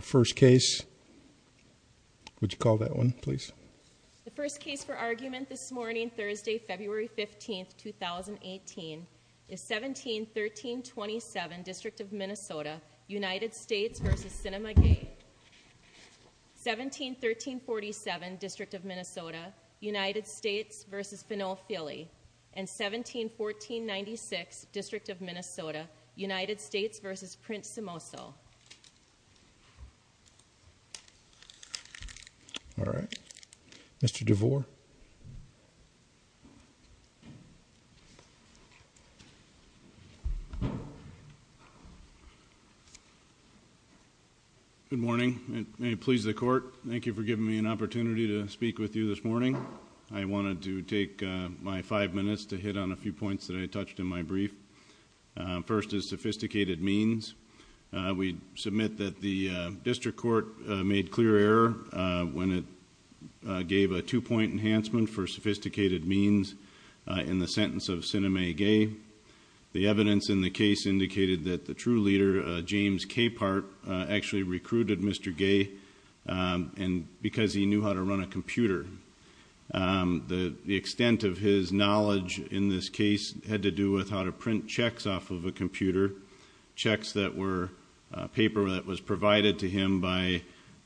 first case would you call that one please the first case for argument this morning Thursday February 15th 2018 is 1713 27 district of Minnesota United States vs. Sienemah Gaye 1713 47 district of Minnesota United States vs. Fennel Philly and 1714 96 district of Minnesota United States vs. Prince of Mosul all right mr. DeVore good morning and may it please the court thank you for giving me an opportunity to speak with you this morning I wanted to take my five minutes to hit on a few we submit that the district court made clear error when it gave a two-point enhancement for sophisticated means in the sentence of Sienemah Gaye the evidence in the case indicated that the true leader James Capehart actually recruited mr. Gaye and because he knew how to run a computer the extent of his knowledge in this case had to do with how to print checks off of a computer checks that were paper that was provided to him by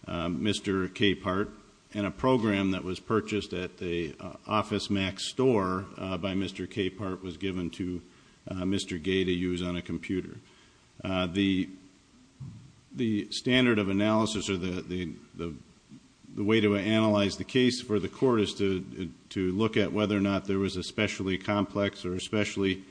mr. Capehart and a program that was purchased at the office max store by mr. Capehart was given to mr. Gaye to use on a computer the the standard of analysis or the the the way to analyze the case for the court is to to look at whether or not there was a complex or especially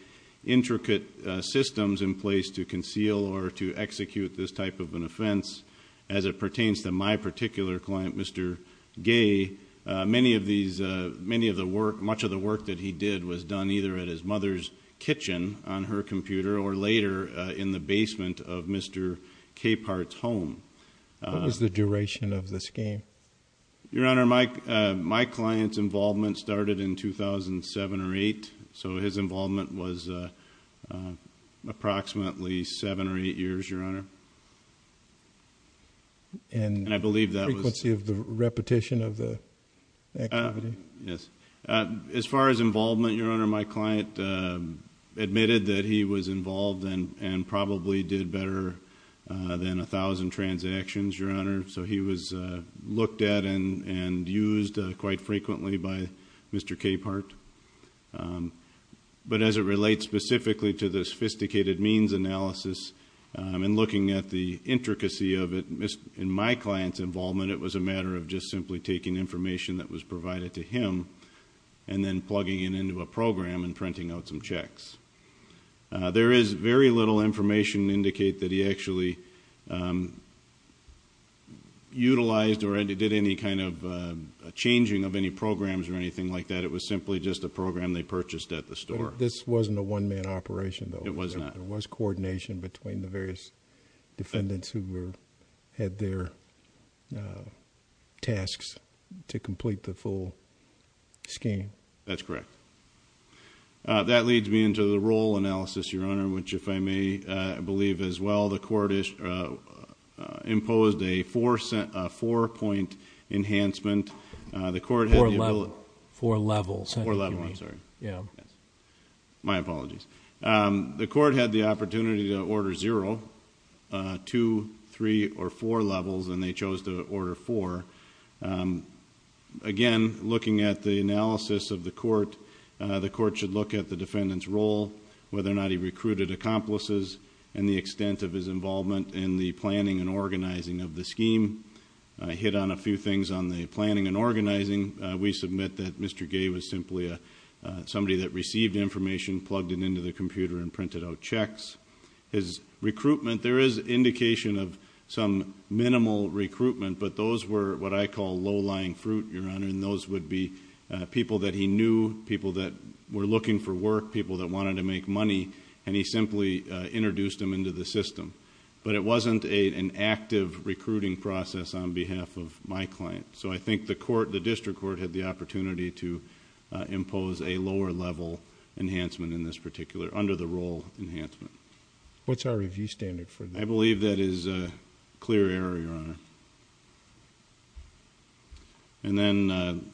intricate systems in place to conceal or to execute this type of an offense as it pertains to my particular client mr. Gaye many of these many of the work much of the work that he did was done either at his mother's kitchen on her computer or later in the basement of mr. Capehart's home is the duration of this game your honor Mike my clients involvement started in 2007 or eight so his involvement was approximately seven or eight years your honor and I believe that was the repetition of the yes as far as involvement your honor my client admitted that he was involved and and probably did better than a thousand transactions your honor so he was looked at and and used quite frequently by mr. Capehart but as it relates specifically to the sophisticated means analysis and looking at the intricacy of it in my clients involvement it was a matter of just simply taking information that was provided to him and then plugging it into a program and printing out some checks there is very little information indicate that he actually utilized or did any kind of changing of any programs or anything like that it was simply just a program they purchased at the store this wasn't a one-man operation though it wasn't there was coordination between the various defendants who were had their tasks to complete the full scheme that's correct that leads me into the role analysis your honor which if I may believe as well the court is imposed a four cent four-point enhancement the court for level four level I'm sorry yeah my apologies the court had the opportunity to order zero two three or four levels and they chose to order for again looking at the analysis of the court the court should look at the defendants role whether or not he recruited accomplices and the extent of his involvement in the planning and organizing of the scheme I hit on a few things on the planning and organizing we submit that mr. Gay was simply a somebody that received information plugged it into the computer and printed out checks his recruitment there is indication of some minimal recruitment but those were what I call low-lying fruit your honor and those would be people that he knew that were looking for work people that wanted to make money and he simply introduced them into the system but it wasn't a an active recruiting process on behalf of my client so I think the court the district court had the opportunity to impose a lower level enhancement in this particular under the role enhancement what's our review standard for I believe that is a clear area and then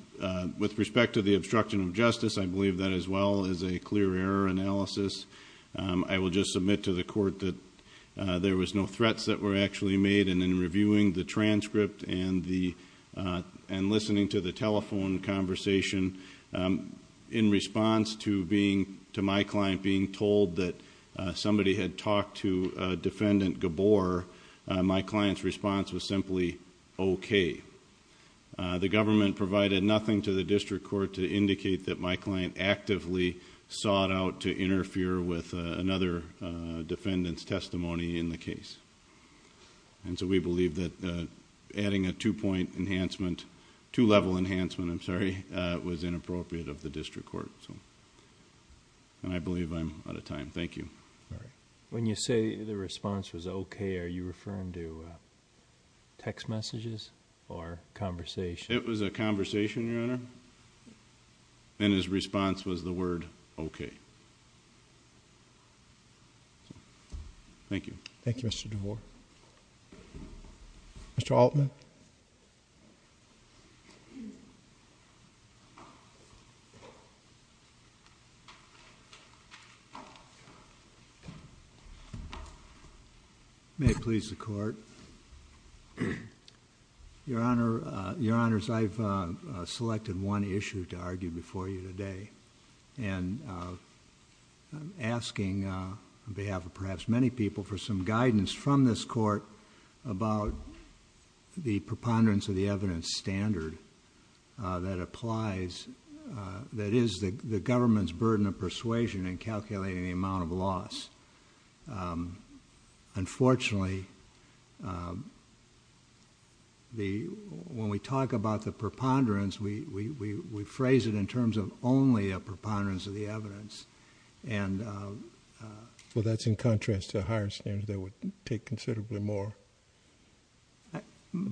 with respect to the obstruction of justice I believe that as well as a clear error analysis I will just submit to the court that there was no threats that were actually made and in reviewing the transcript and the and listening to the telephone conversation in response to being to my client being told that somebody had talked to defendant Gabor my client's response was simply okay the government provided nothing to the district court to indicate that my client actively sought out to interfere with another defendant's testimony in the case and so we believe that adding a two-point enhancement to level enhancement I'm sorry it was inappropriate of the district court so and I believe I'm out of time thank you when you say the response was okay are you referring to text messages or conversation it was a conversation your honor and his response was the word okay thank you thank you mr. DeVore mr. Altman may please the court your honor your honors I've selected one issue to argue before you today and asking behalf of perhaps many people for some guidance from this court about the preponderance of the evidence standard that applies that is the government's burden of persuasion and calculating the amount of loss unfortunately the when we talk about the preponderance we we phrase it in terms of only a preponderance of the evidence and well that's in contrast to higher standards that would take considerably more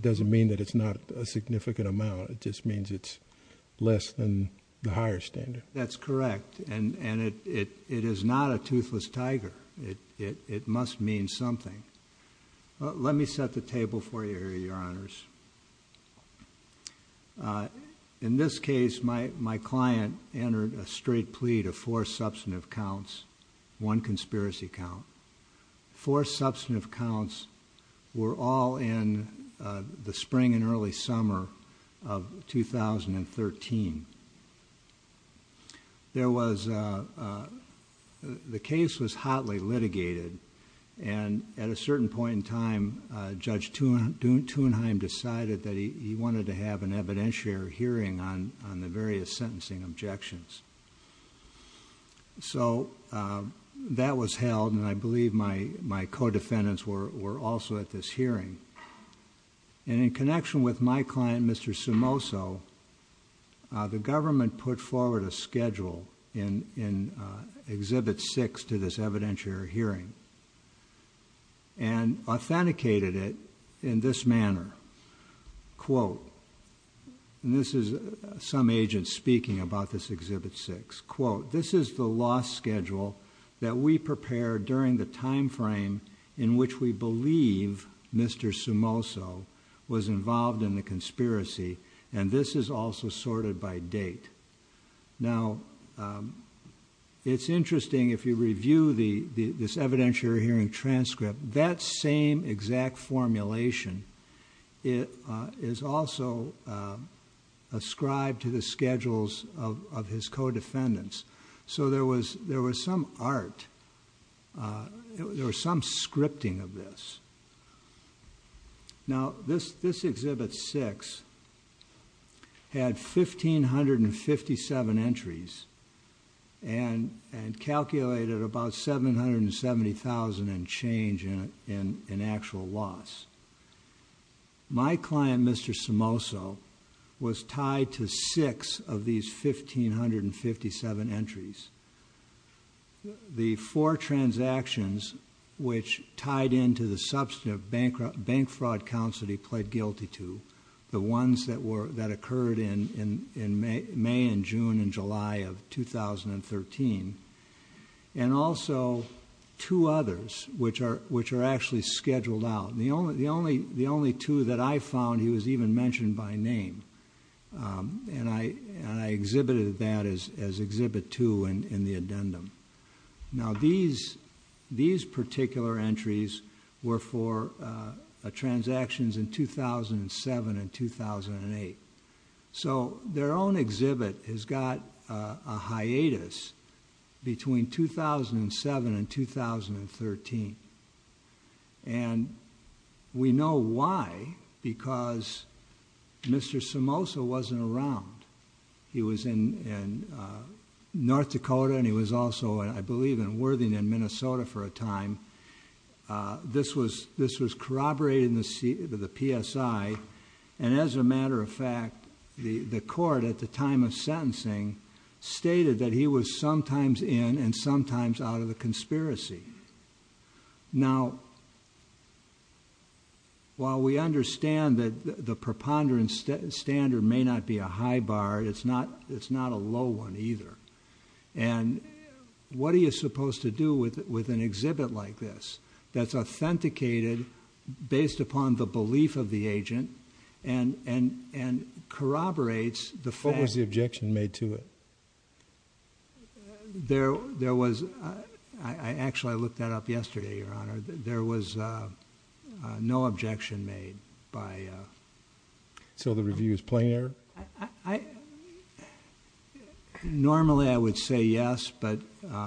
doesn't mean that it's not a significant amount it just means it's less than the higher standard that's correct and and it it is not a toothless tiger it it must mean something let me set the table for you here your honors in this case my my client entered a straight plea to four substantive counts one conspiracy count four substantive counts were all in the spring and early summer of 2013 there was the case was hotly litigated and at a certain point in time judge to tune to and I'm decided that he wanted to have an evidentiary hearing on on the my co-defendants were were also at this hearing and in connection with my client mr. sumo so the government put forward a schedule in in exhibit six to this evidentiary hearing and authenticated it in this manner quote this is some agent speaking about this exhibit six quote this is the last schedule that we prepared during the time frame in which we believe mr. sumo so was involved in the conspiracy and this is also sorted by date now it's interesting if you review the this evidentiary hearing transcript that same exact formulation it is also a scribe to the schedules of his co-defendants so there was there was some scripting of this now this this exhibit six had fifteen hundred and fifty seven entries and and calculated about seven hundred and seventy thousand and change in an actual loss my client mr. sumo so was tied to six of these fifteen hundred and fifty seven entries the four transactions which tied into the substantive bankrupt bank fraud counts that he pled guilty to the ones that were that occurred in in in may and june and july of two thousand and thirteen and also two others which are which are actually scheduled out the only the only the only two that I found he was even mentioned by name and I and exhibited that is as exhibit two and in the addendum now these these particular entries were for a transactions in two thousand and seven and two thousand and eight so their own exhibit has got a hiatus between two thousand and seven and two thousand and thirteen and we know why because mr. sumo so wasn't around he was in and North Dakota and he was also and I believe in Worthing in Minnesota for a time this was this was corroborated in the seat of the PSI and as a matter of fact the the court at the time of sentencing stated that he was sometimes in and sometimes out of the conspiracy now while we understand that the preponderance standard may not be a high bar it's not it's not a low one either and what are you supposed to do with it with an exhibit like this that's authenticated based upon the belief of the agent and and and corroborates the objection made to it there there was I actually looked that up yesterday there was no objection made by so the reviews player normally I would say yes but the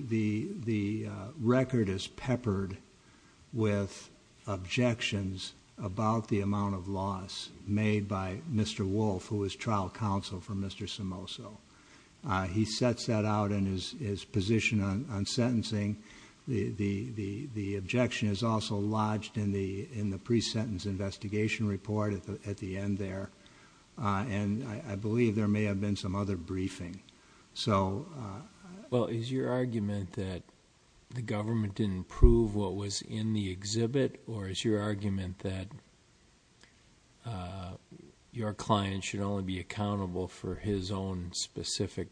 the the record is peppered with objections about the amount of loss made by mr. wolf who was trial counsel for mr. sumo so he sets that out in his position on sentencing the the the the objection is also lodged in the in the pre-sentence investigation report at the end there and I believe there may have been some other briefing so well is your argument that the government didn't prove what was in the exhibit or is your argument that your client should only be accountable for his own specific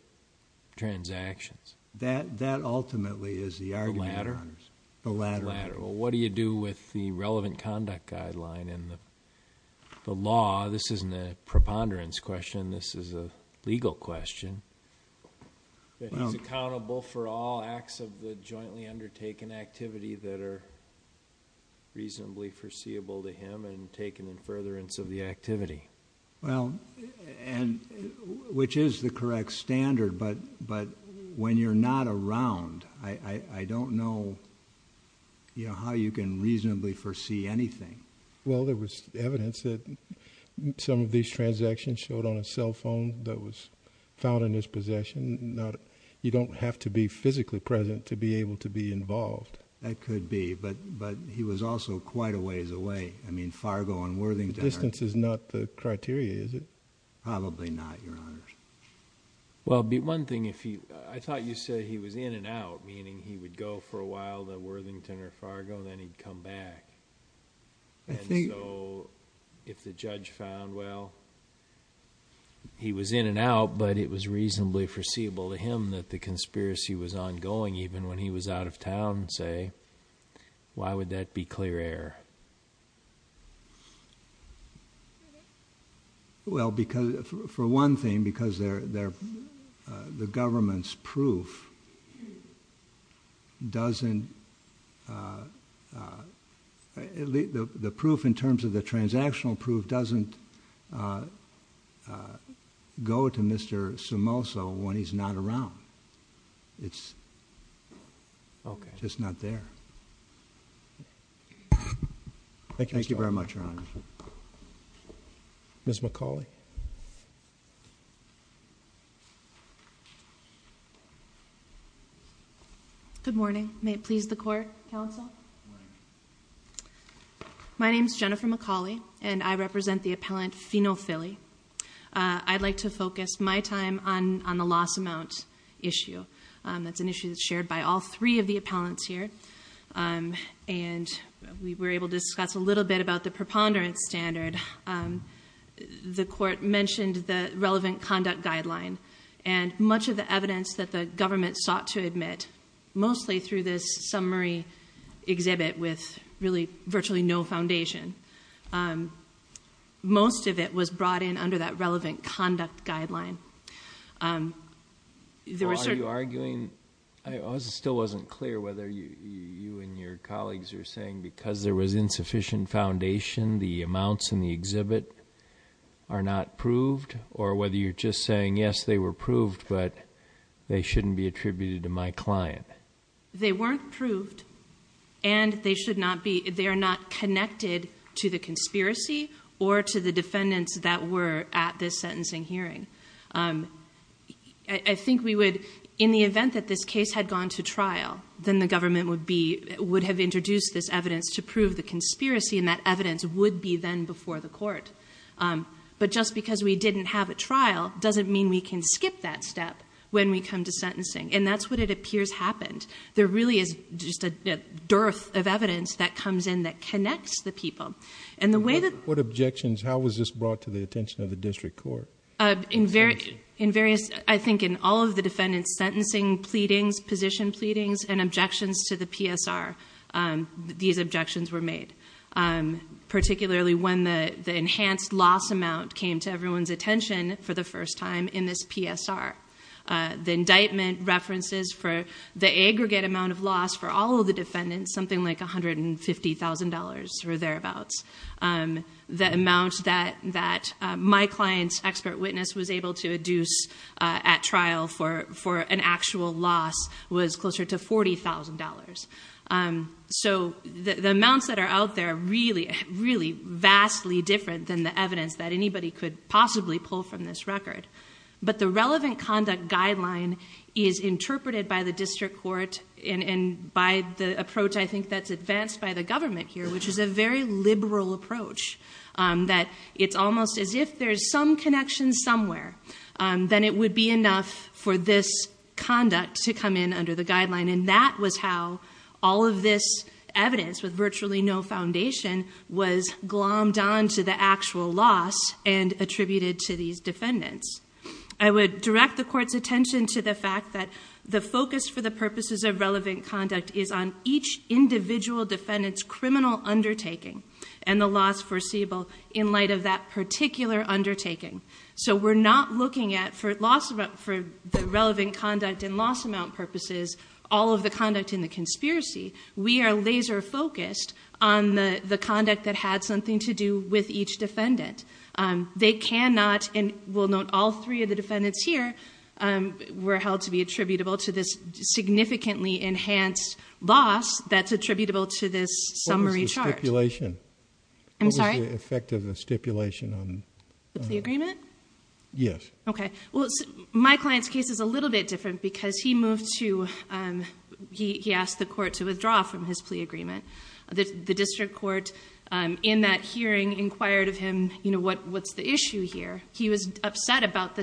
transactions that that ultimately is the argument the latter the latter well what do you do with the relevant conduct guideline in the law this isn't a preponderance question this is a legal question he's accountable for all acts of the jointly undertaken activity that are reasonably foreseeable to him and taken in furtherance of the activity well and which is the correct standard but but when you're not around I I don't know you know how you can reasonably foresee anything well there was evidence that some of these transactions showed on a cell phone that was found in his possession not you don't have to be physically present to be able to be involved that could be but but he was also quite a ways away I mean Fargo and Worthington distance is not the criteria is it probably not your honor well be one thing if he I thought you said he was in and out meaning he would go for a Fargo then he'd come back I think so if the judge found well he was in and out but it was reasonably foreseeable to him that the conspiracy was ongoing even when he was out of town say why would that be clear air well because for one thing because they're there the government's proof doesn't the proof in terms of the transactional proof doesn't go to mr. sumo so when he's not around it's okay it's not there thank you thank you very much wrong miss McCauley good morning may it please the court counsel my name is Jennifer McCauley and I represent the appellant phenol Philly I'd like to focus my time on on the loss amount issue that's an issue that's shared by all three of the appellants here and we were able to discuss a little bit about the preponderance standard the court mentioned the relevant conduct guideline and much of the evidence that the government sought to admit mostly through this summary exhibit with really virtually no foundation most of it was brought in that relevant conduct guideline I still wasn't clear whether you and your colleagues are saying because there was insufficient foundation the amounts in the exhibit are not proved or whether you're just saying yes they were proved but they shouldn't be attributed to my client they weren't proved and they should not be they are not connected to the conspiracy or to the defendants that were at this sentencing hearing I think we would in the event that this case had gone to trial then the government would be would have introduced this evidence to prove the conspiracy and that evidence would be then before the court but just because we didn't have a trial doesn't mean we can skip that step when we come to sentencing and that's what it appears happened there really is just a dearth of evidence that comes in that connects the people and the way that what objections how was this brought to the attention of the district court in very in various I think in all of the defendants sentencing pleadings position pleadings and objections to the PSR these objections were made particularly when the the enhanced loss amount came to everyone's attention for the first time in this PSR the indictment references for the aggregate amount of loss for all of the defendants something like a hundred and fifty thousand dollars or thereabouts the amount that that my clients expert witness was able to adduce at trial for for an actual loss was closer to forty thousand dollars so the amounts that are out there really really vastly different than the evidence that anybody could possibly pull from this record but the relevant conduct guideline is interpreted by the district court in and by the approach I think that's advanced by the government here which is a very liberal approach that it's almost as if there's some connection somewhere then it would be enough for this conduct to come in under the guideline and that was how all of this evidence with virtually no foundation was glommed on to the actual loss and attributed to these defendants I would direct the court's into the fact that the focus for the purposes of relevant conduct is on each individual defendants criminal undertaking and the loss foreseeable in light of that particular undertaking so we're not looking at for loss about for the relevant conduct and loss amount purposes all of the conduct in the conspiracy we are laser focused on the the conduct that had something to do with each defendant they cannot and will note all three of the defendants here were held to be attributable to this significantly enhanced loss that's attributable to this summary charge relation I'm sorry effective the stipulation on the agreement yes okay well my client's case is a little bit different because he moved to he asked the court to withdraw from his plea agreement the district court in that hearing inquired of him you know what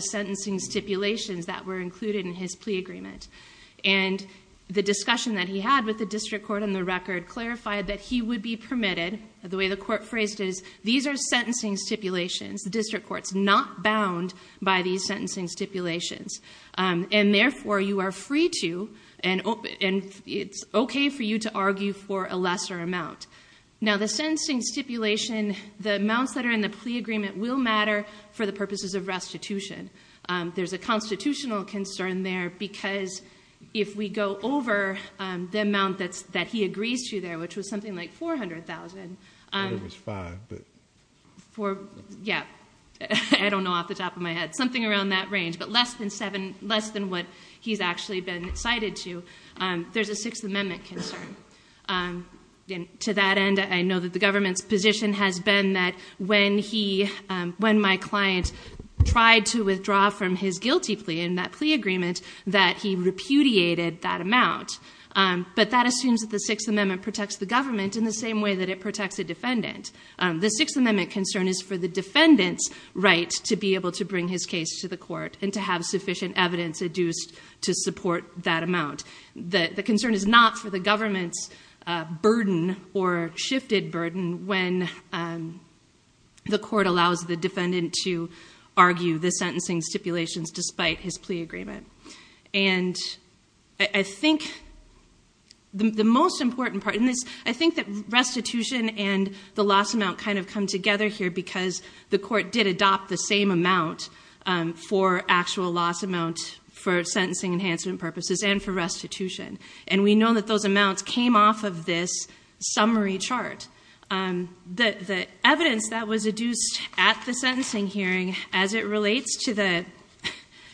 sentencing stipulations that were included in his plea agreement and the discussion that he had with the district court on the record clarified that he would be permitted the way the court phrased is these are sentencing stipulations the district courts not bound by these sentencing stipulations and therefore you are free to and open and it's okay for you to argue for a lesser amount now the sentencing stipulation the amounts that are in the agreement will matter for the purposes of restitution there's a constitutional concern there because if we go over the amount that's that he agrees to there which was something like 400,000 for yeah I don't know off the top of my head something around that range but less than seven less than what he's actually been cited to there's a Sixth Amendment concern and to that end I know that the when my client tried to withdraw from his guilty plea in that plea agreement that he repudiated that amount but that assumes that the Sixth Amendment protects the government in the same way that it protects a defendant the Sixth Amendment concern is for the defendants right to be able to bring his case to the court and to have sufficient evidence adduced to support that amount that the concern is not for the government's burden or shifted burden when the court allows the defendant to argue the sentencing stipulations despite his plea agreement and I think the most important part in this I think that restitution and the loss amount kind of come together here because the court did adopt the same amount for actual loss amount for sentencing enhancement purposes and for restitution and we know that those amounts came off of this summary chart that the evidence that was adduced at the sentencing hearing as it relates to the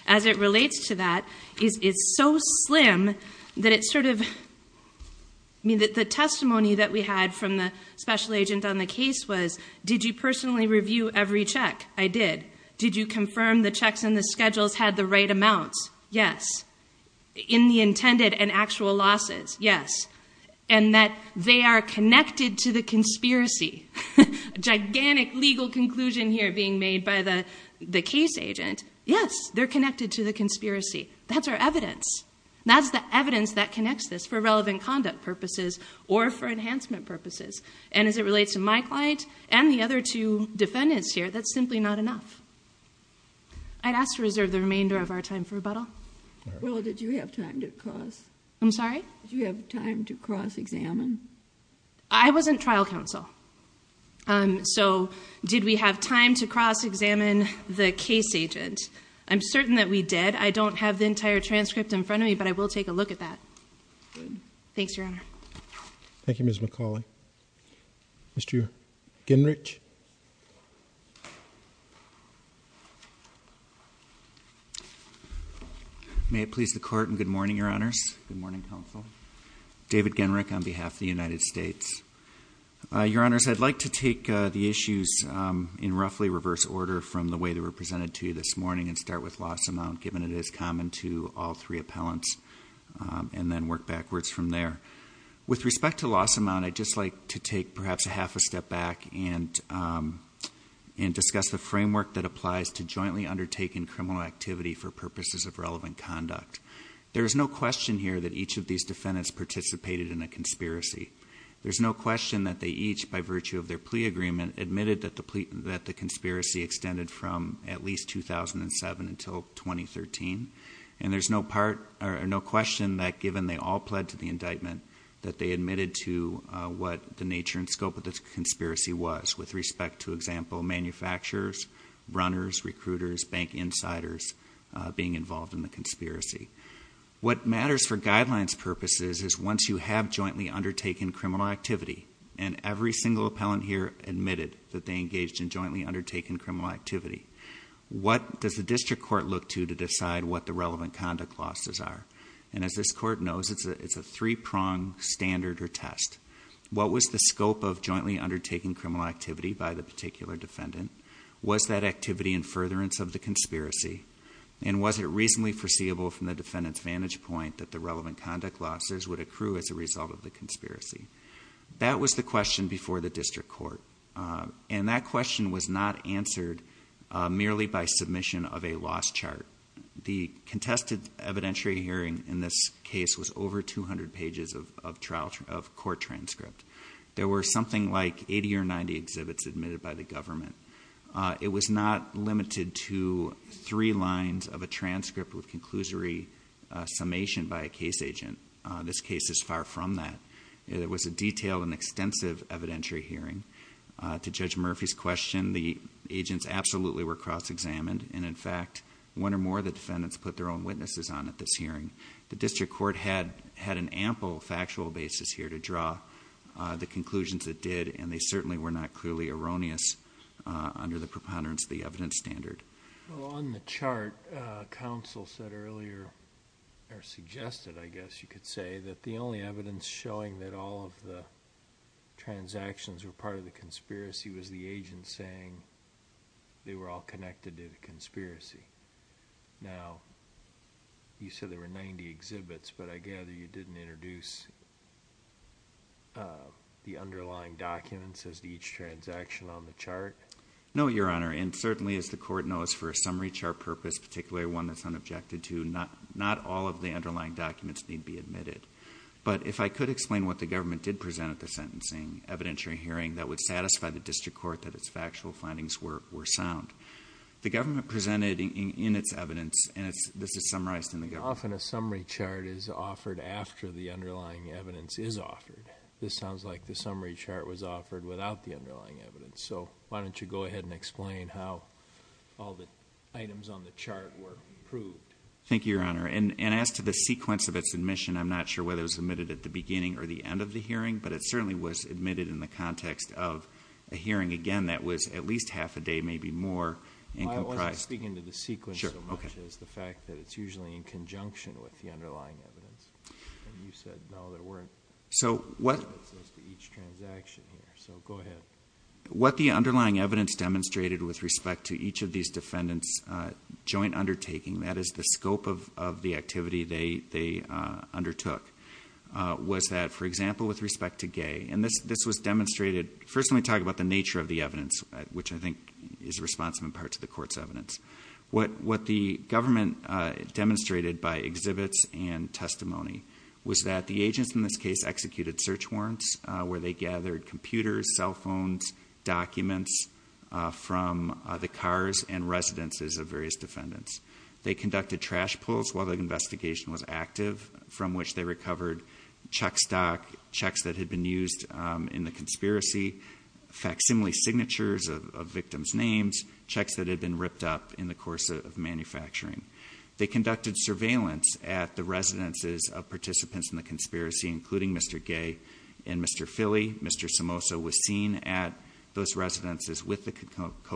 as it relates to that is it's so slim that it's sort of I mean that the testimony that we had from the special agent on the case was did you personally review every check I did did you confirm the checks and the schedules had the right amounts yes in the intended and actual losses yes and that they are connected to the conspiracy gigantic legal conclusion here being made by the the case agent yes they're connected to the conspiracy that's our evidence that's the evidence that connects this for relevant conduct purposes or for enhancement purposes and as it relates to my client and the other two defendants here that's simply not enough I'd ask to reserve the remainder of our time for rebuttal well did you have time to cross I'm sorry you have time to cross-examine I wasn't trial counsel um so did we have time to cross-examine the case agent I'm certain that we did I don't have the entire transcript in front of me but I will take a look at that thanks your honor Thank You mrs. McCauley. Mr. Ginrich. May it please the court and good morning your honors good morning counsel David Ginrich on behalf of the United States your honors I'd like to take the issues in roughly reverse order from the way they were presented to you this morning and start with loss amount given it is common to all three appellants and then work backwards from there with respect to loss amount I'd just like to take perhaps a half a step back and and discuss the framework that applies to jointly undertaking criminal activity for purposes of relevant conduct there is no question here that each of these defendants participated in a conspiracy there's no question that they each by virtue of their plea agreement admitted that the plea that the conspiracy extended from at least 2007 until 2013 and there's no part or no question that given they all pled to the indictment that they admitted to what the nature and scope of this conspiracy was with respect to example manufacturers runners recruiters bank insiders being involved in the conspiracy what matters for guidelines purposes is once you have jointly undertaken criminal activity and every single appellant here admitted that they engaged in jointly undertaken criminal activity what does the district court look to to decide what the relevant conduct losses are and as this court knows it's a it's a three-pronged standard or test what was the scope of jointly undertaking criminal activity by the particular defendant was that activity in furtherance of the conspiracy and was it reasonably foreseeable from the defendants vantage point that the relevant conduct losses would accrue as a result of the conspiracy that was the question before the district court and that question was not answered merely by submission of a chart the contested evidentiary hearing in this case was over 200 pages of trial of court transcript there were something like 80 or 90 exhibits admitted by the government it was not limited to three lines of a transcript with conclusory summation by a case agent this case is far from that it was a detailed and extensive evidentiary hearing to judge Murphy's question the agents absolutely were cross-examined and in fact one or more the defendants put their own witnesses on at this hearing the district court had had an ample factual basis here to draw the conclusions that did and they certainly were not clearly erroneous under the preponderance the evidence standard on the chart council said earlier or suggested I guess you could say that the only evidence showing that all of the transactions were part of the conspiracy was the agent saying they were all connected to the conspiracy now you said there were 90 exhibits but I gather you didn't introduce the underlying documents as each transaction on the chart no your honor and certainly as the court knows for a summary chart purpose particularly one that's unobjected to not not all of the underlying documents need be admitted but if I could explain what the government did present at the sentencing evidentiary hearing that would satisfy the district court that its factual findings were were sound the government presented in its evidence and it's this is summarized in the often a summary chart is offered after the underlying evidence is offered this sounds like the summary chart was offered without the underlying evidence so why don't you go ahead and explain how all the items on the chart were proved thank you your honor and and as to the sequence of its admission I'm not sure whether it was admitted at the beginning or the end of the hearing but it certainly was admitted in the context of a hearing again that was at least half a day maybe more and I was speaking to the sequence sure okay is the fact that it's usually in conjunction with the underlying evidence so what what the underlying evidence demonstrated with respect to each of these defendants joint undertaking that is the scope of the activity they they undertook was that for example with demonstrated firstly talk about the nature of the evidence which I think is responsive in part to the court's evidence what what the government demonstrated by exhibits and testimony was that the agents in this case executed search warrants where they gathered computers cell phones documents from the cars and residences of various defendants they conducted trash pulls while the investigation was active from which they recovered check stock checks that had been used in the conspiracy facsimile signatures of victims names checks that have been ripped up in the course of manufacturing they conducted surveillance at the residences of participants in the conspiracy including mr. gay and mr. Philly mr. Somoza was seen at those residences with the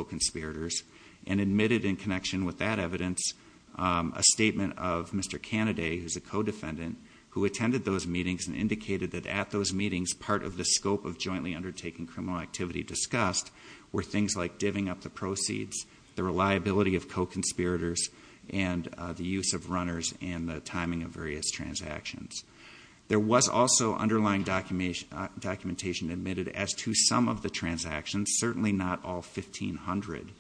conspirators and admitted in connection with that evidence a statement of mr. candidate is a co-defendant who attended those meetings and indicated that at those meetings part of the scope of jointly undertaking criminal activity discussed were things like giving up the proceeds the reliability of co conspirators and the use of runners and the timing of various transactions there was also underlying documentation documentation admitted as to some of the transactions certainly not all 1,500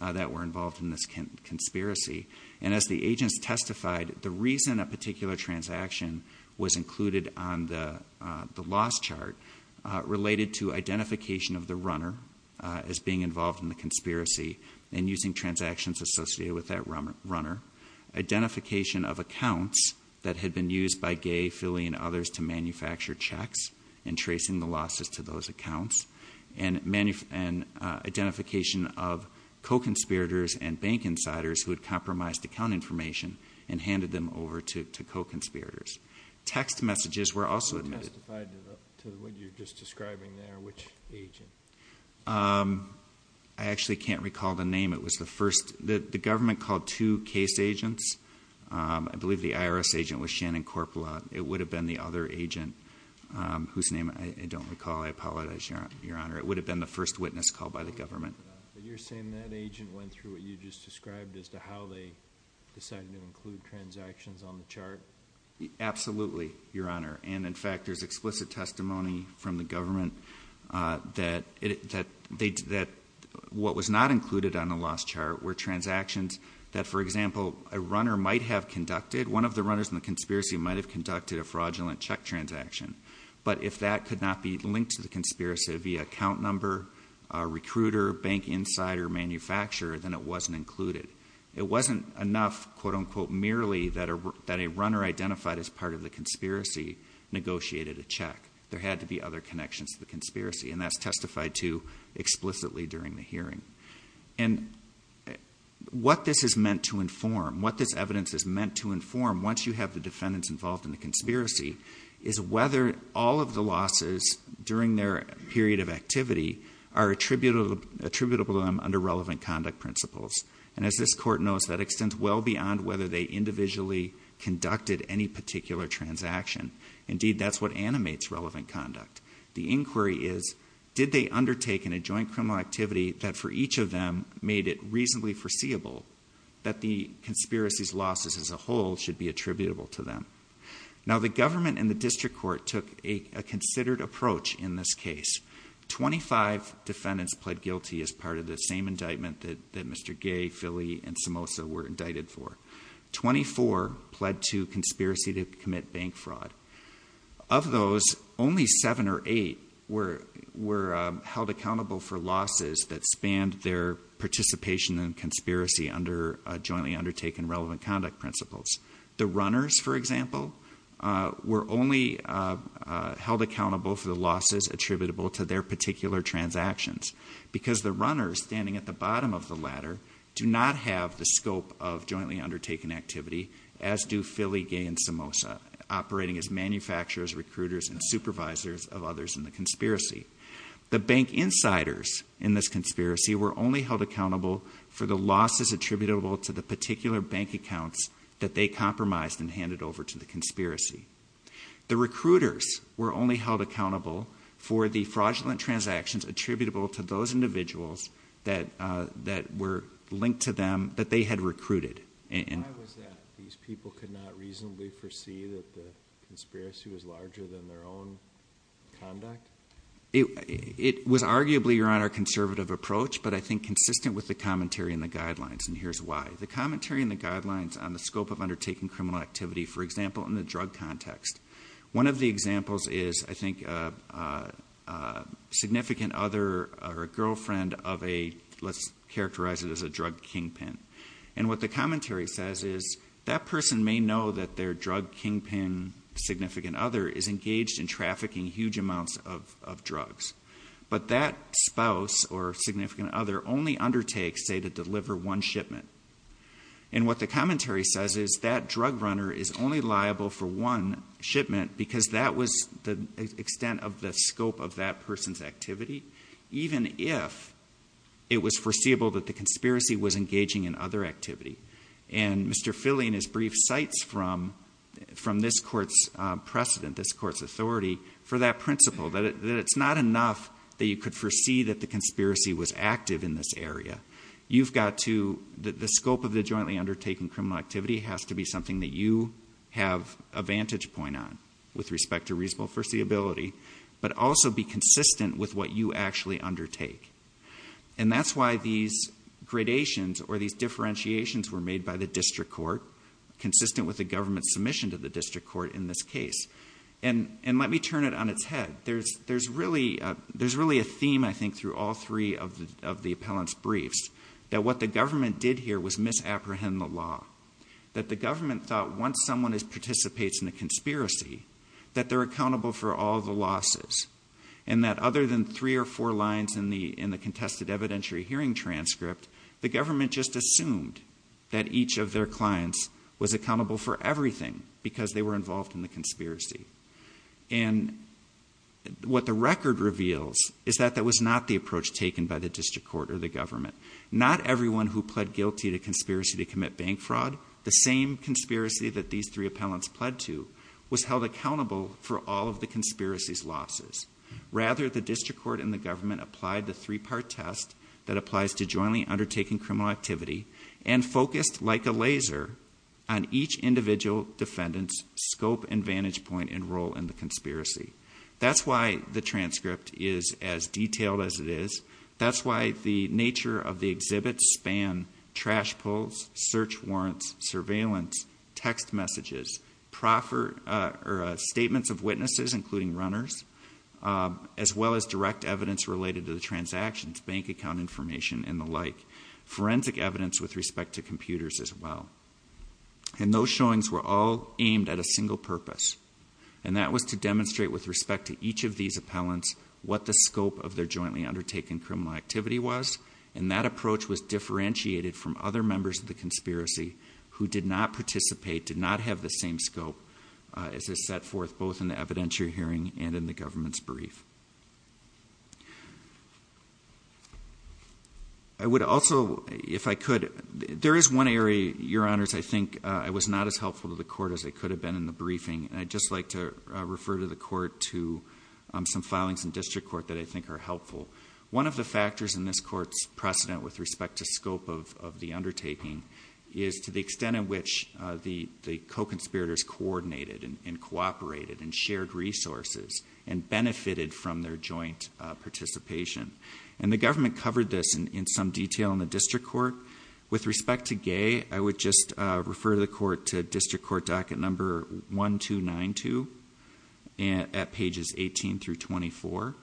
that were involved in this can conspiracy and as the agents testified the reason a particular transaction was chart related to identification of the runner as being involved in the conspiracy and using transactions associated with that runner identification of accounts that had been used by gay Philly and others to manufacture checks and tracing the losses to those accounts and many and identification of co conspirators and bank insiders who had compromised account information and what you're just describing there which I actually can't recall the name it was the first that the government called two case agents I believe the IRS agent was Shannon corporate it would have been the other agent whose name I don't recall I apologize your honor it would have been the first witness called by the government you're saying that agent went through what you just described as to how they decided to include transactions on the chart absolutely your honor and in fact there's explicit testimony from the government that they did that what was not included on the last chart were transactions that for example a runner might have conducted one of the runners in the conspiracy might have conducted a fraudulent check transaction but if that could not be linked to the conspiracy via account number a recruiter bank insider manufacturer than it wasn't included it wasn't enough quote-unquote merely that a that a runner identified as part of the conspiracy negotiated a check there had to be other connections to the conspiracy and that's testified to explicitly during the hearing and what this is meant to inform what this evidence is meant to inform once you have the defendants involved in the conspiracy is whether all of the losses during their period of activity are attributed attributable them under relevant conduct principles and as this court knows that extends well beyond whether they individually conducted any particular transaction indeed that's what animates relevant conduct the inquiry is did they undertaken a joint criminal activity that for each of them made it reasonably foreseeable that the conspiracies losses as a whole should be attributable to them now the government and the district court took a considered approach in this case 25 defendants pled guilty as part of the same indictment that that Mr. Gay Philly and 24 pled to conspiracy to commit bank fraud of those only seven or eight were were held accountable for losses that spanned their participation in conspiracy under jointly undertaken relevant conduct principles the runners for example were only held accountable for the losses attributable to their particular transactions because the runners standing at the bottom of the activity as do Philly Gay and Samosa operating as manufacturers recruiters and supervisors of others in the conspiracy the bank insiders in this conspiracy were only held accountable for the losses attributable to the particular bank accounts that they compromised and handed over to the conspiracy the recruiters were only held accountable for the fraudulent transactions attributable to those individuals that that were linked to that they had recruited and people could not reasonably foresee that the conspiracy was larger than their own conduct it was arguably your honor conservative approach but I think consistent with the commentary in the guidelines and here's why the commentary in the guidelines on the scope of undertaking criminal activity for example in the drug context one of the examples is I think significant other or girlfriend of a let's characterize it as the drug kingpin and what the commentary says is that person may know that their drug kingpin significant other is engaged in trafficking huge amounts of drugs but that spouse or significant other only undertakes a to deliver one shipment and what the commentary says is that drug runner is only liable for one shipment because that was the extent of the scope of that person's activity even if it was foreseeable that the conspiracy was engaging in other activity and Mr. Philly and his brief sites from from this court's precedent this court's authority for that principle that it's not enough that you could foresee that the conspiracy was active in this area you've got to the scope of the jointly undertaken criminal activity has to be something that you have a vantage point on with respect to reasonable foreseeability but also be consistent with what you actually undertake and that's why these gradations or these differentiations were made by the district court consistent with the government's submission to the district court in this case and and let me turn it on its head there's there's really there's really a theme I think through all three of the of the appellant's briefs that what the government did here was misapprehend the law that the government thought once someone is participates in a conspiracy that they're accountable for all the losses and that other than three or four lines in the in the contested evidentiary hearing transcript the government just assumed that each of their clients was accountable for everything because they were involved in the conspiracy and what the record reveals is that that was not the approach taken by the district court or the government not everyone who pled guilty to conspiracy to commit bank fraud the same conspiracy that these three appellants pled to was held accountable for all of the conspiracies losses rather the district court in the government applied the three-part test that applies to jointly undertaking criminal activity and focused like a laser on each individual defendants scope and vantage point and role in the conspiracy that's why the transcript is as detailed as it is that's why the nature of the exhibit span trash pulls search warrants surveillance text messages proffer or statements of witnesses including runners as well as direct evidence related to the transactions bank account information and the like forensic evidence with respect to computers as well and those showings were all aimed at a single purpose and that was to demonstrate with respect to each of these appellants what the scope of their jointly undertaken criminal activity was and that approach was differentiated from other members of conspiracy who did not participate did not have the same scope as a set forth both in the evidentiary hearing and in the government's brief I would also if I could there is one area your honors I think I was not as helpful to the court as it could have been in the briefing I just like to refer to the court to some filings and district court that I think are helpful one of the factors in this court's precedent with respect to scope of the undertaking is to the extent of which the co-conspirators coordinated and cooperated and shared resources and benefited from their joint participation and the government covered this in some detail in the district court with respect to gay I would just refer the court to district court docket number 1292 and at pages 18 through 24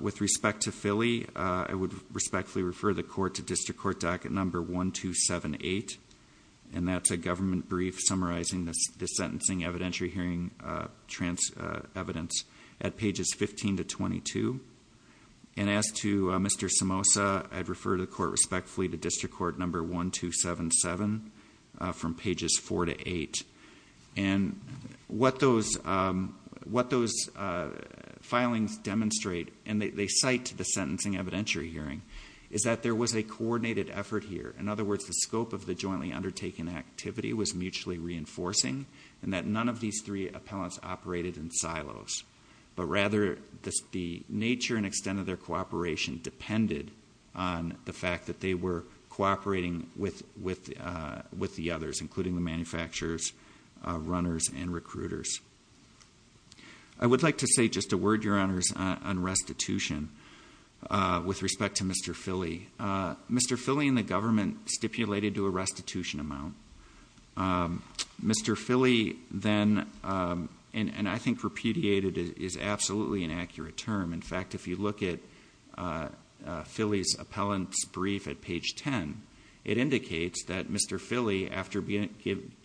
with respect to Philly I would respectfully refer the court to district court docket number 1278 and that's a government brief summarizing the sentencing evidentiary hearing trans evidence at pages 15 to 22 and as to Mr. Somoza I'd refer to the court respectfully to district court number 1277 from pages four to eight and what those what those filings demonstrate and they cite to the sentencing evidentiary hearing is that there was a coordinated effort here in other words the scope of the jointly undertaken activity was mutually reinforcing and that none of these three appellants operated in silos but rather the nature and extent of their cooperation depended on the fact that they were cooperating with with with the others including the manufacturers runners and recruiters I would like to say just a word your honors on restitution with respect to Mr. Philly Mr. Philly in the government stipulated to a restitution amount Mr. Philly then and I think repudiated is absolutely an indicates that Mr. Philly after being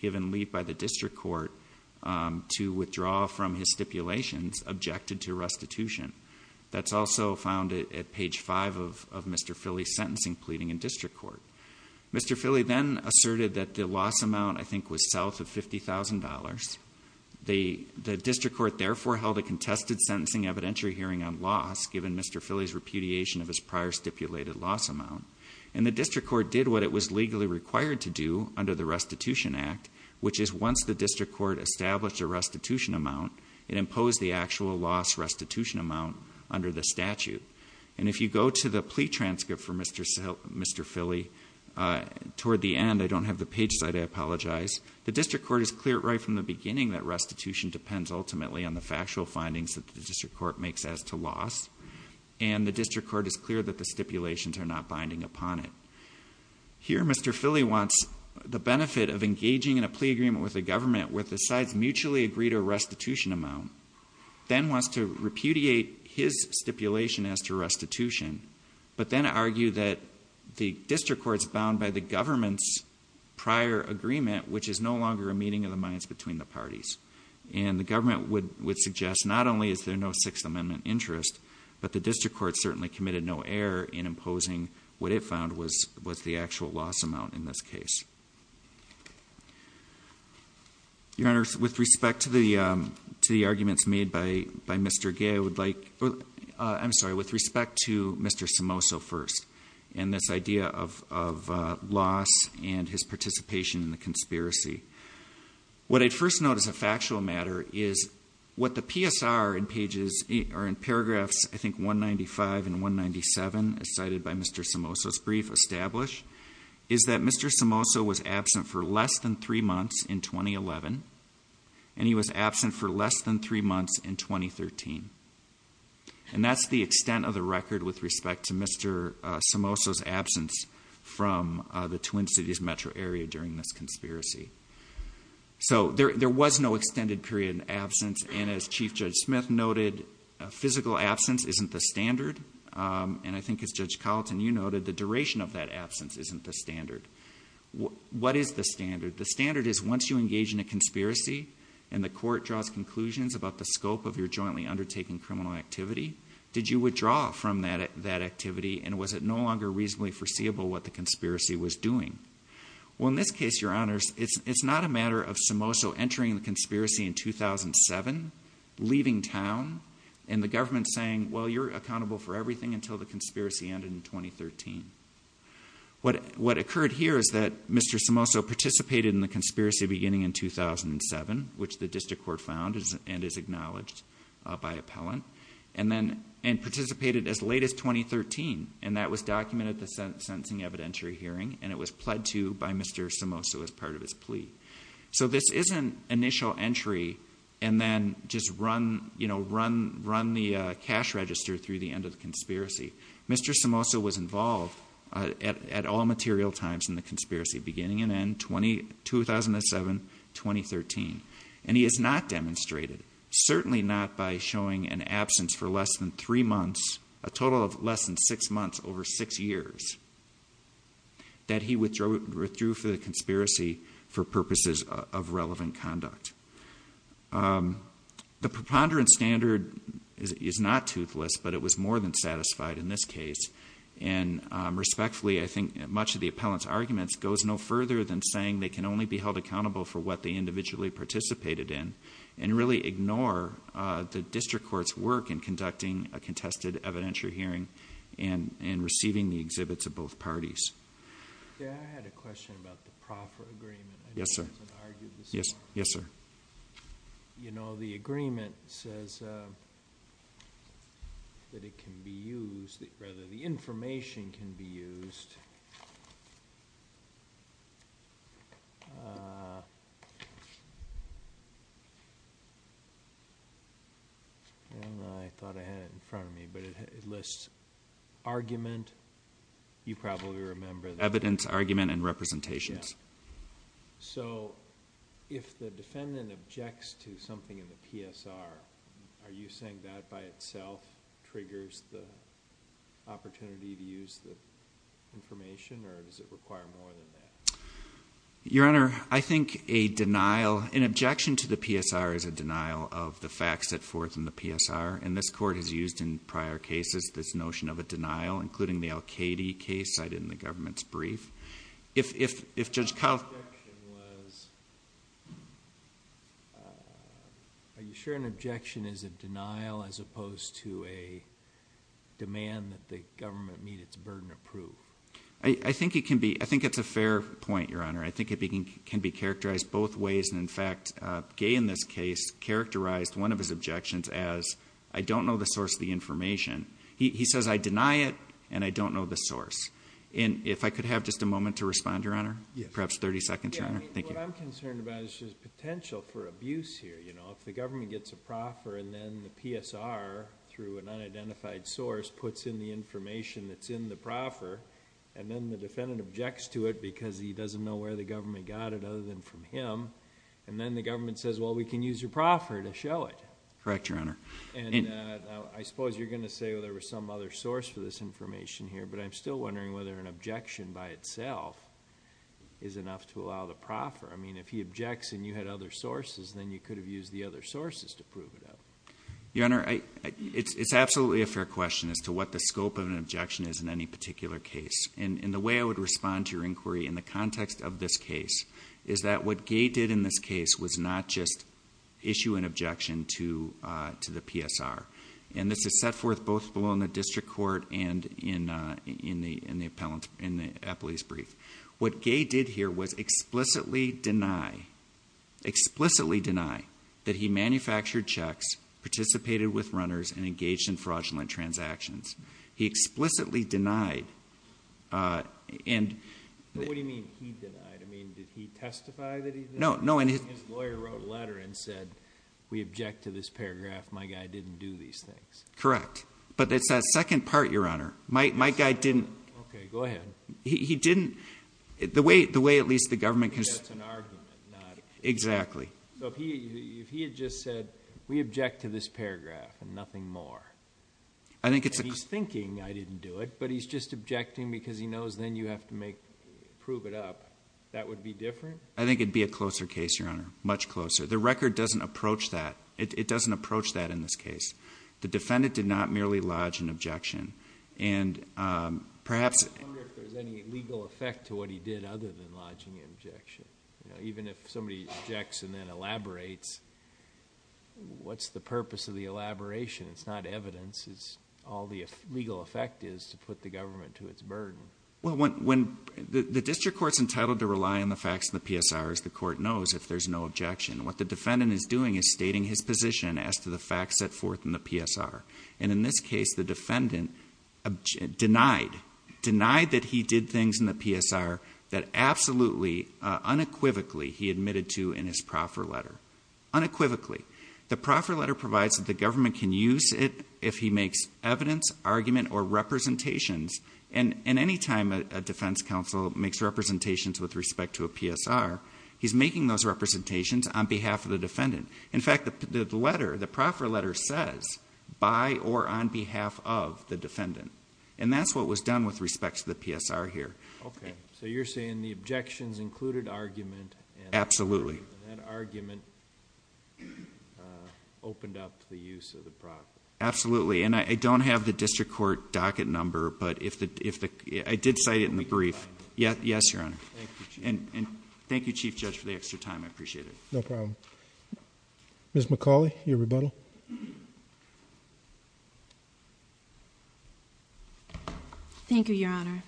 given lead by the district court to withdraw from his stipulations objected to restitution that's also found at page five of Mr. Philly sentencing pleading in district court Mr. Philly then asserted that the loss amount I think was south of $50,000 the district court therefore held a contested sentencing evidentiary hearing on loss given Mr. Philly's repudiation of his prior stipulated loss amount and the district court did what it was legally required to do under the restitution act which is once the district court established a restitution amount it imposed the actual loss restitution amount under the statute and if you go to the plea transcript for Mr. Phil Mr. Philly toward the end I don't have the page site I apologize the district court is clear right from the beginning that restitution depends ultimately on the factual findings that the district court makes as to loss and the district court is clear that the stipulations are not binding upon it here Mr. Philly wants the benefit of engaging in a plea agreement with the government with the sides mutually agree to a restitution amount then wants to repudiate his stipulation as to restitution but then argue that the district courts bound by the government's prior agreement which is no longer a meeting of the minds between the parties and the government would would suggest not only is there no Sixth Amendment interest but the district court certainly committed no error in imposing what it found was was the actual loss amount in this case your honor with respect to the to the arguments made by by mr. gay would like I'm sorry with respect to mr. Somoso first and this idea of loss and his participation in the conspiracy what I'd notice a factual matter is what the PSR in pages are in paragraphs I think 195 and 197 cited by mr. Somoso brief established is that mr. Somoso was absent for less than three months in 2011 and he was absent for less than three months in 2013 and that's the extent of the record with respect to mr. Somoso absence from the Twin Cities metro area during this conspiracy so there was no extended period absence and as Chief Judge Smith noted a physical absence isn't the standard and I think it's judge Carlton you noted the duration of that absence isn't the standard what is the standard the standard is once you engage in a conspiracy and the court draws conclusions about the scope of your jointly undertaking criminal activity did you withdraw from that at that activity and was it no longer reasonably foreseeable what the conspiracy was doing well in this case your honors it's it's not a matter of entering the conspiracy in 2007 leaving town and the government saying well you're accountable for everything until the conspiracy ended in 2013 what what occurred here is that mr. Somoso participated in the conspiracy beginning in 2007 which the district court found is and is acknowledged by appellant and then and participated as late as 2013 and that was documented the sentencing evidentiary hearing and it was pled to by mr. Somoso as part of his plea so this isn't initial entry and then just run you know run run the cash register through the end of the conspiracy mr. Somoso was involved at all material times in the conspiracy beginning and end 20 2007 2013 and he is not demonstrated certainly not by showing an absence for less than three months a total of less than six months over six years that he withdrew for the conduct the preponderance standard is not toothless but it was more than satisfied in this case and respectfully I think much of the appellants arguments goes no further than saying they can only be held accountable for what they individually participated in and really ignore the district courts work in conducting a contested evidentiary hearing and in receiving the exhibits of parties yes sir yes yes sir you know the agreement says that it can be used that rather the information can be used I thought ahead in front of me but it lists argument you probably remember evidence argument and representations so if the defendant objects to something in the PSR are you saying that by itself triggers the opportunity to use the your honor I think a denial in objection to the PSR is a denial of the facts at forth in the PSR and this court has used in prior cases this notion of a denial including the Al-Qaeda case cited in the government's brief if if if just how are you sure an objection is a denial as opposed to a demand that the government I think it can be I think it's a fair point your honor I think it can be characterized both ways and in fact gay in this case characterized one of his objections as I don't know the source of the information he says I deny it and I don't know the source and if I could have just a moment to respond your honor perhaps 30 seconds potential for abuse here you know if the government gets a in the proffer and then the defendant objects to it because he doesn't know where the government got it other than from him and then the government says well we can use your proffer to show it correct your honor and I suppose you're gonna say oh there was some other source for this information here but I'm still wondering whether an objection by itself is enough to allow the proffer I mean if he objects and you had other sources then you could have used the other sources to prove it up your honor I it's it's absolutely a fair question as to what the scope of an objection is in any particular case and in the way I would respond to your inquiry in the context of this case is that what gate did in this case was not just issue an objection to to the PSR and this is set forth both below in the district court and in in the in the appellant in the police brief what gay did here was explicitly deny explicitly deny that he manufactured checks participated with runners and engaged in fraudulent transactions he explicitly denied and no no and his lawyer wrote a letter and said we object to this paragraph my guy didn't do these things correct but it's that second part your honor my guy didn't go ahead he didn't the way the way at least the government is an argument not exactly so if he had just we object to this paragraph and nothing more I think it's thinking I didn't do it but he's just objecting because he knows then you have to make prove it up that would be different I think it'd be a closer case your honor much closer the record doesn't approach that it doesn't approach that in this case the defendant did not merely lodge an objection and perhaps legal effect to what he did even if somebody checks and then elaborates what's the purpose of the elaboration it's not evidence is all the legal effect is to put the government to its burden when when the district courts entitled to rely on the facts in the PSR as the court knows if there's no objection what the defendant is doing is stating his position as to the facts set forth in the PSR and in this case the things in the PSR that absolutely unequivocally he admitted to in his proper letter unequivocally the proper letter provides that the government can use it if he makes evidence argument or representations and in any time a defense counsel makes representations with respect to a PSR he's making those representations on behalf of the defendant in fact the letter the proper letter says by or on behalf of the defendant and that's what was done with respect to the PSR here okay so you're saying the objections included argument absolutely argument opened up the use of the prop absolutely and I don't have the district court docket number but if the if the I did cite it in the brief yeah yes your honor and thank you Chief Judge for the extra time I appreciate it no problem miss McCauley your rebuttal thank you your honor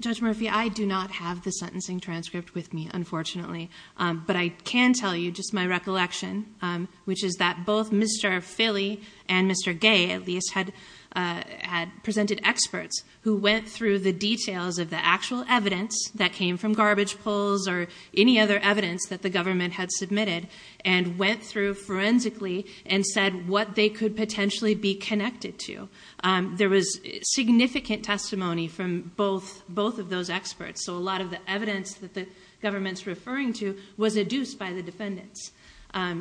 judge Murphy I do not have the sentencing transcript with me unfortunately but I can tell you just my recollection which is that both mr. Philly and mr. gay at least had had presented experts who went through the details of the actual evidence that came from garbage pulls or any other evidence that the government had submitted and went through forensically and said what they could potentially be connected to there was significant testimony from both both of those experts so a lot of the evidence that the government's referring to was adduced by the defendants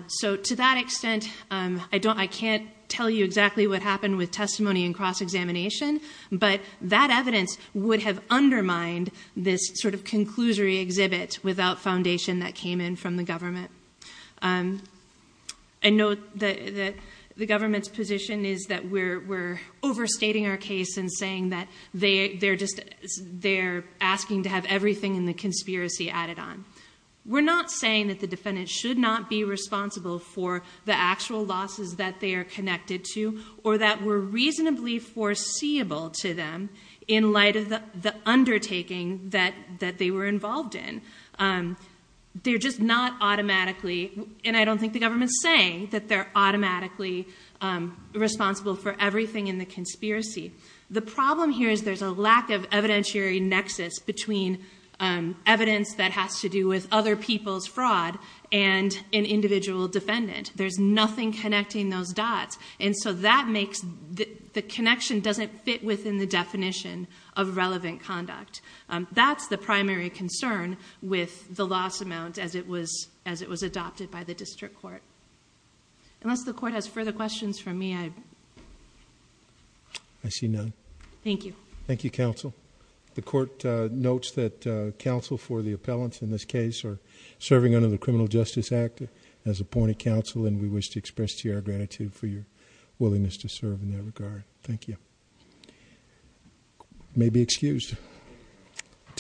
so to that extent I don't I can't tell you exactly what happened with testimony and cross-examination but that evidence would have undermined this sort of conclusory exhibit without foundation that came in from the government I know that the government's position is that we're we're overstating our case and saying that they they're just they're asking to have everything in the conspiracy added on we're not saying that the defendant should not be responsible for the actual losses that they are connected to or that were reasonably foreseeable to them in light of the undertaking that that they were involved in they're just not automatically and I don't think the government's saying that they're automatically responsible for everything in the conspiracy the problem here is there's a lack of evidentiary nexus between evidence that has to do with other people's fraud and an individual defendant there's nothing connecting those dots and so that makes the connection doesn't fit within the relevant conduct that's the primary concern with the loss amount as it was as it was adopted by the district court unless the court has further questions from me I I see none thank you thank you counsel the court notes that counsel for the appellants in this case are serving under the Criminal Justice Act as appointed counsel and we wish to express to your gratitude for your willingness to serve in that regard thank you may be excused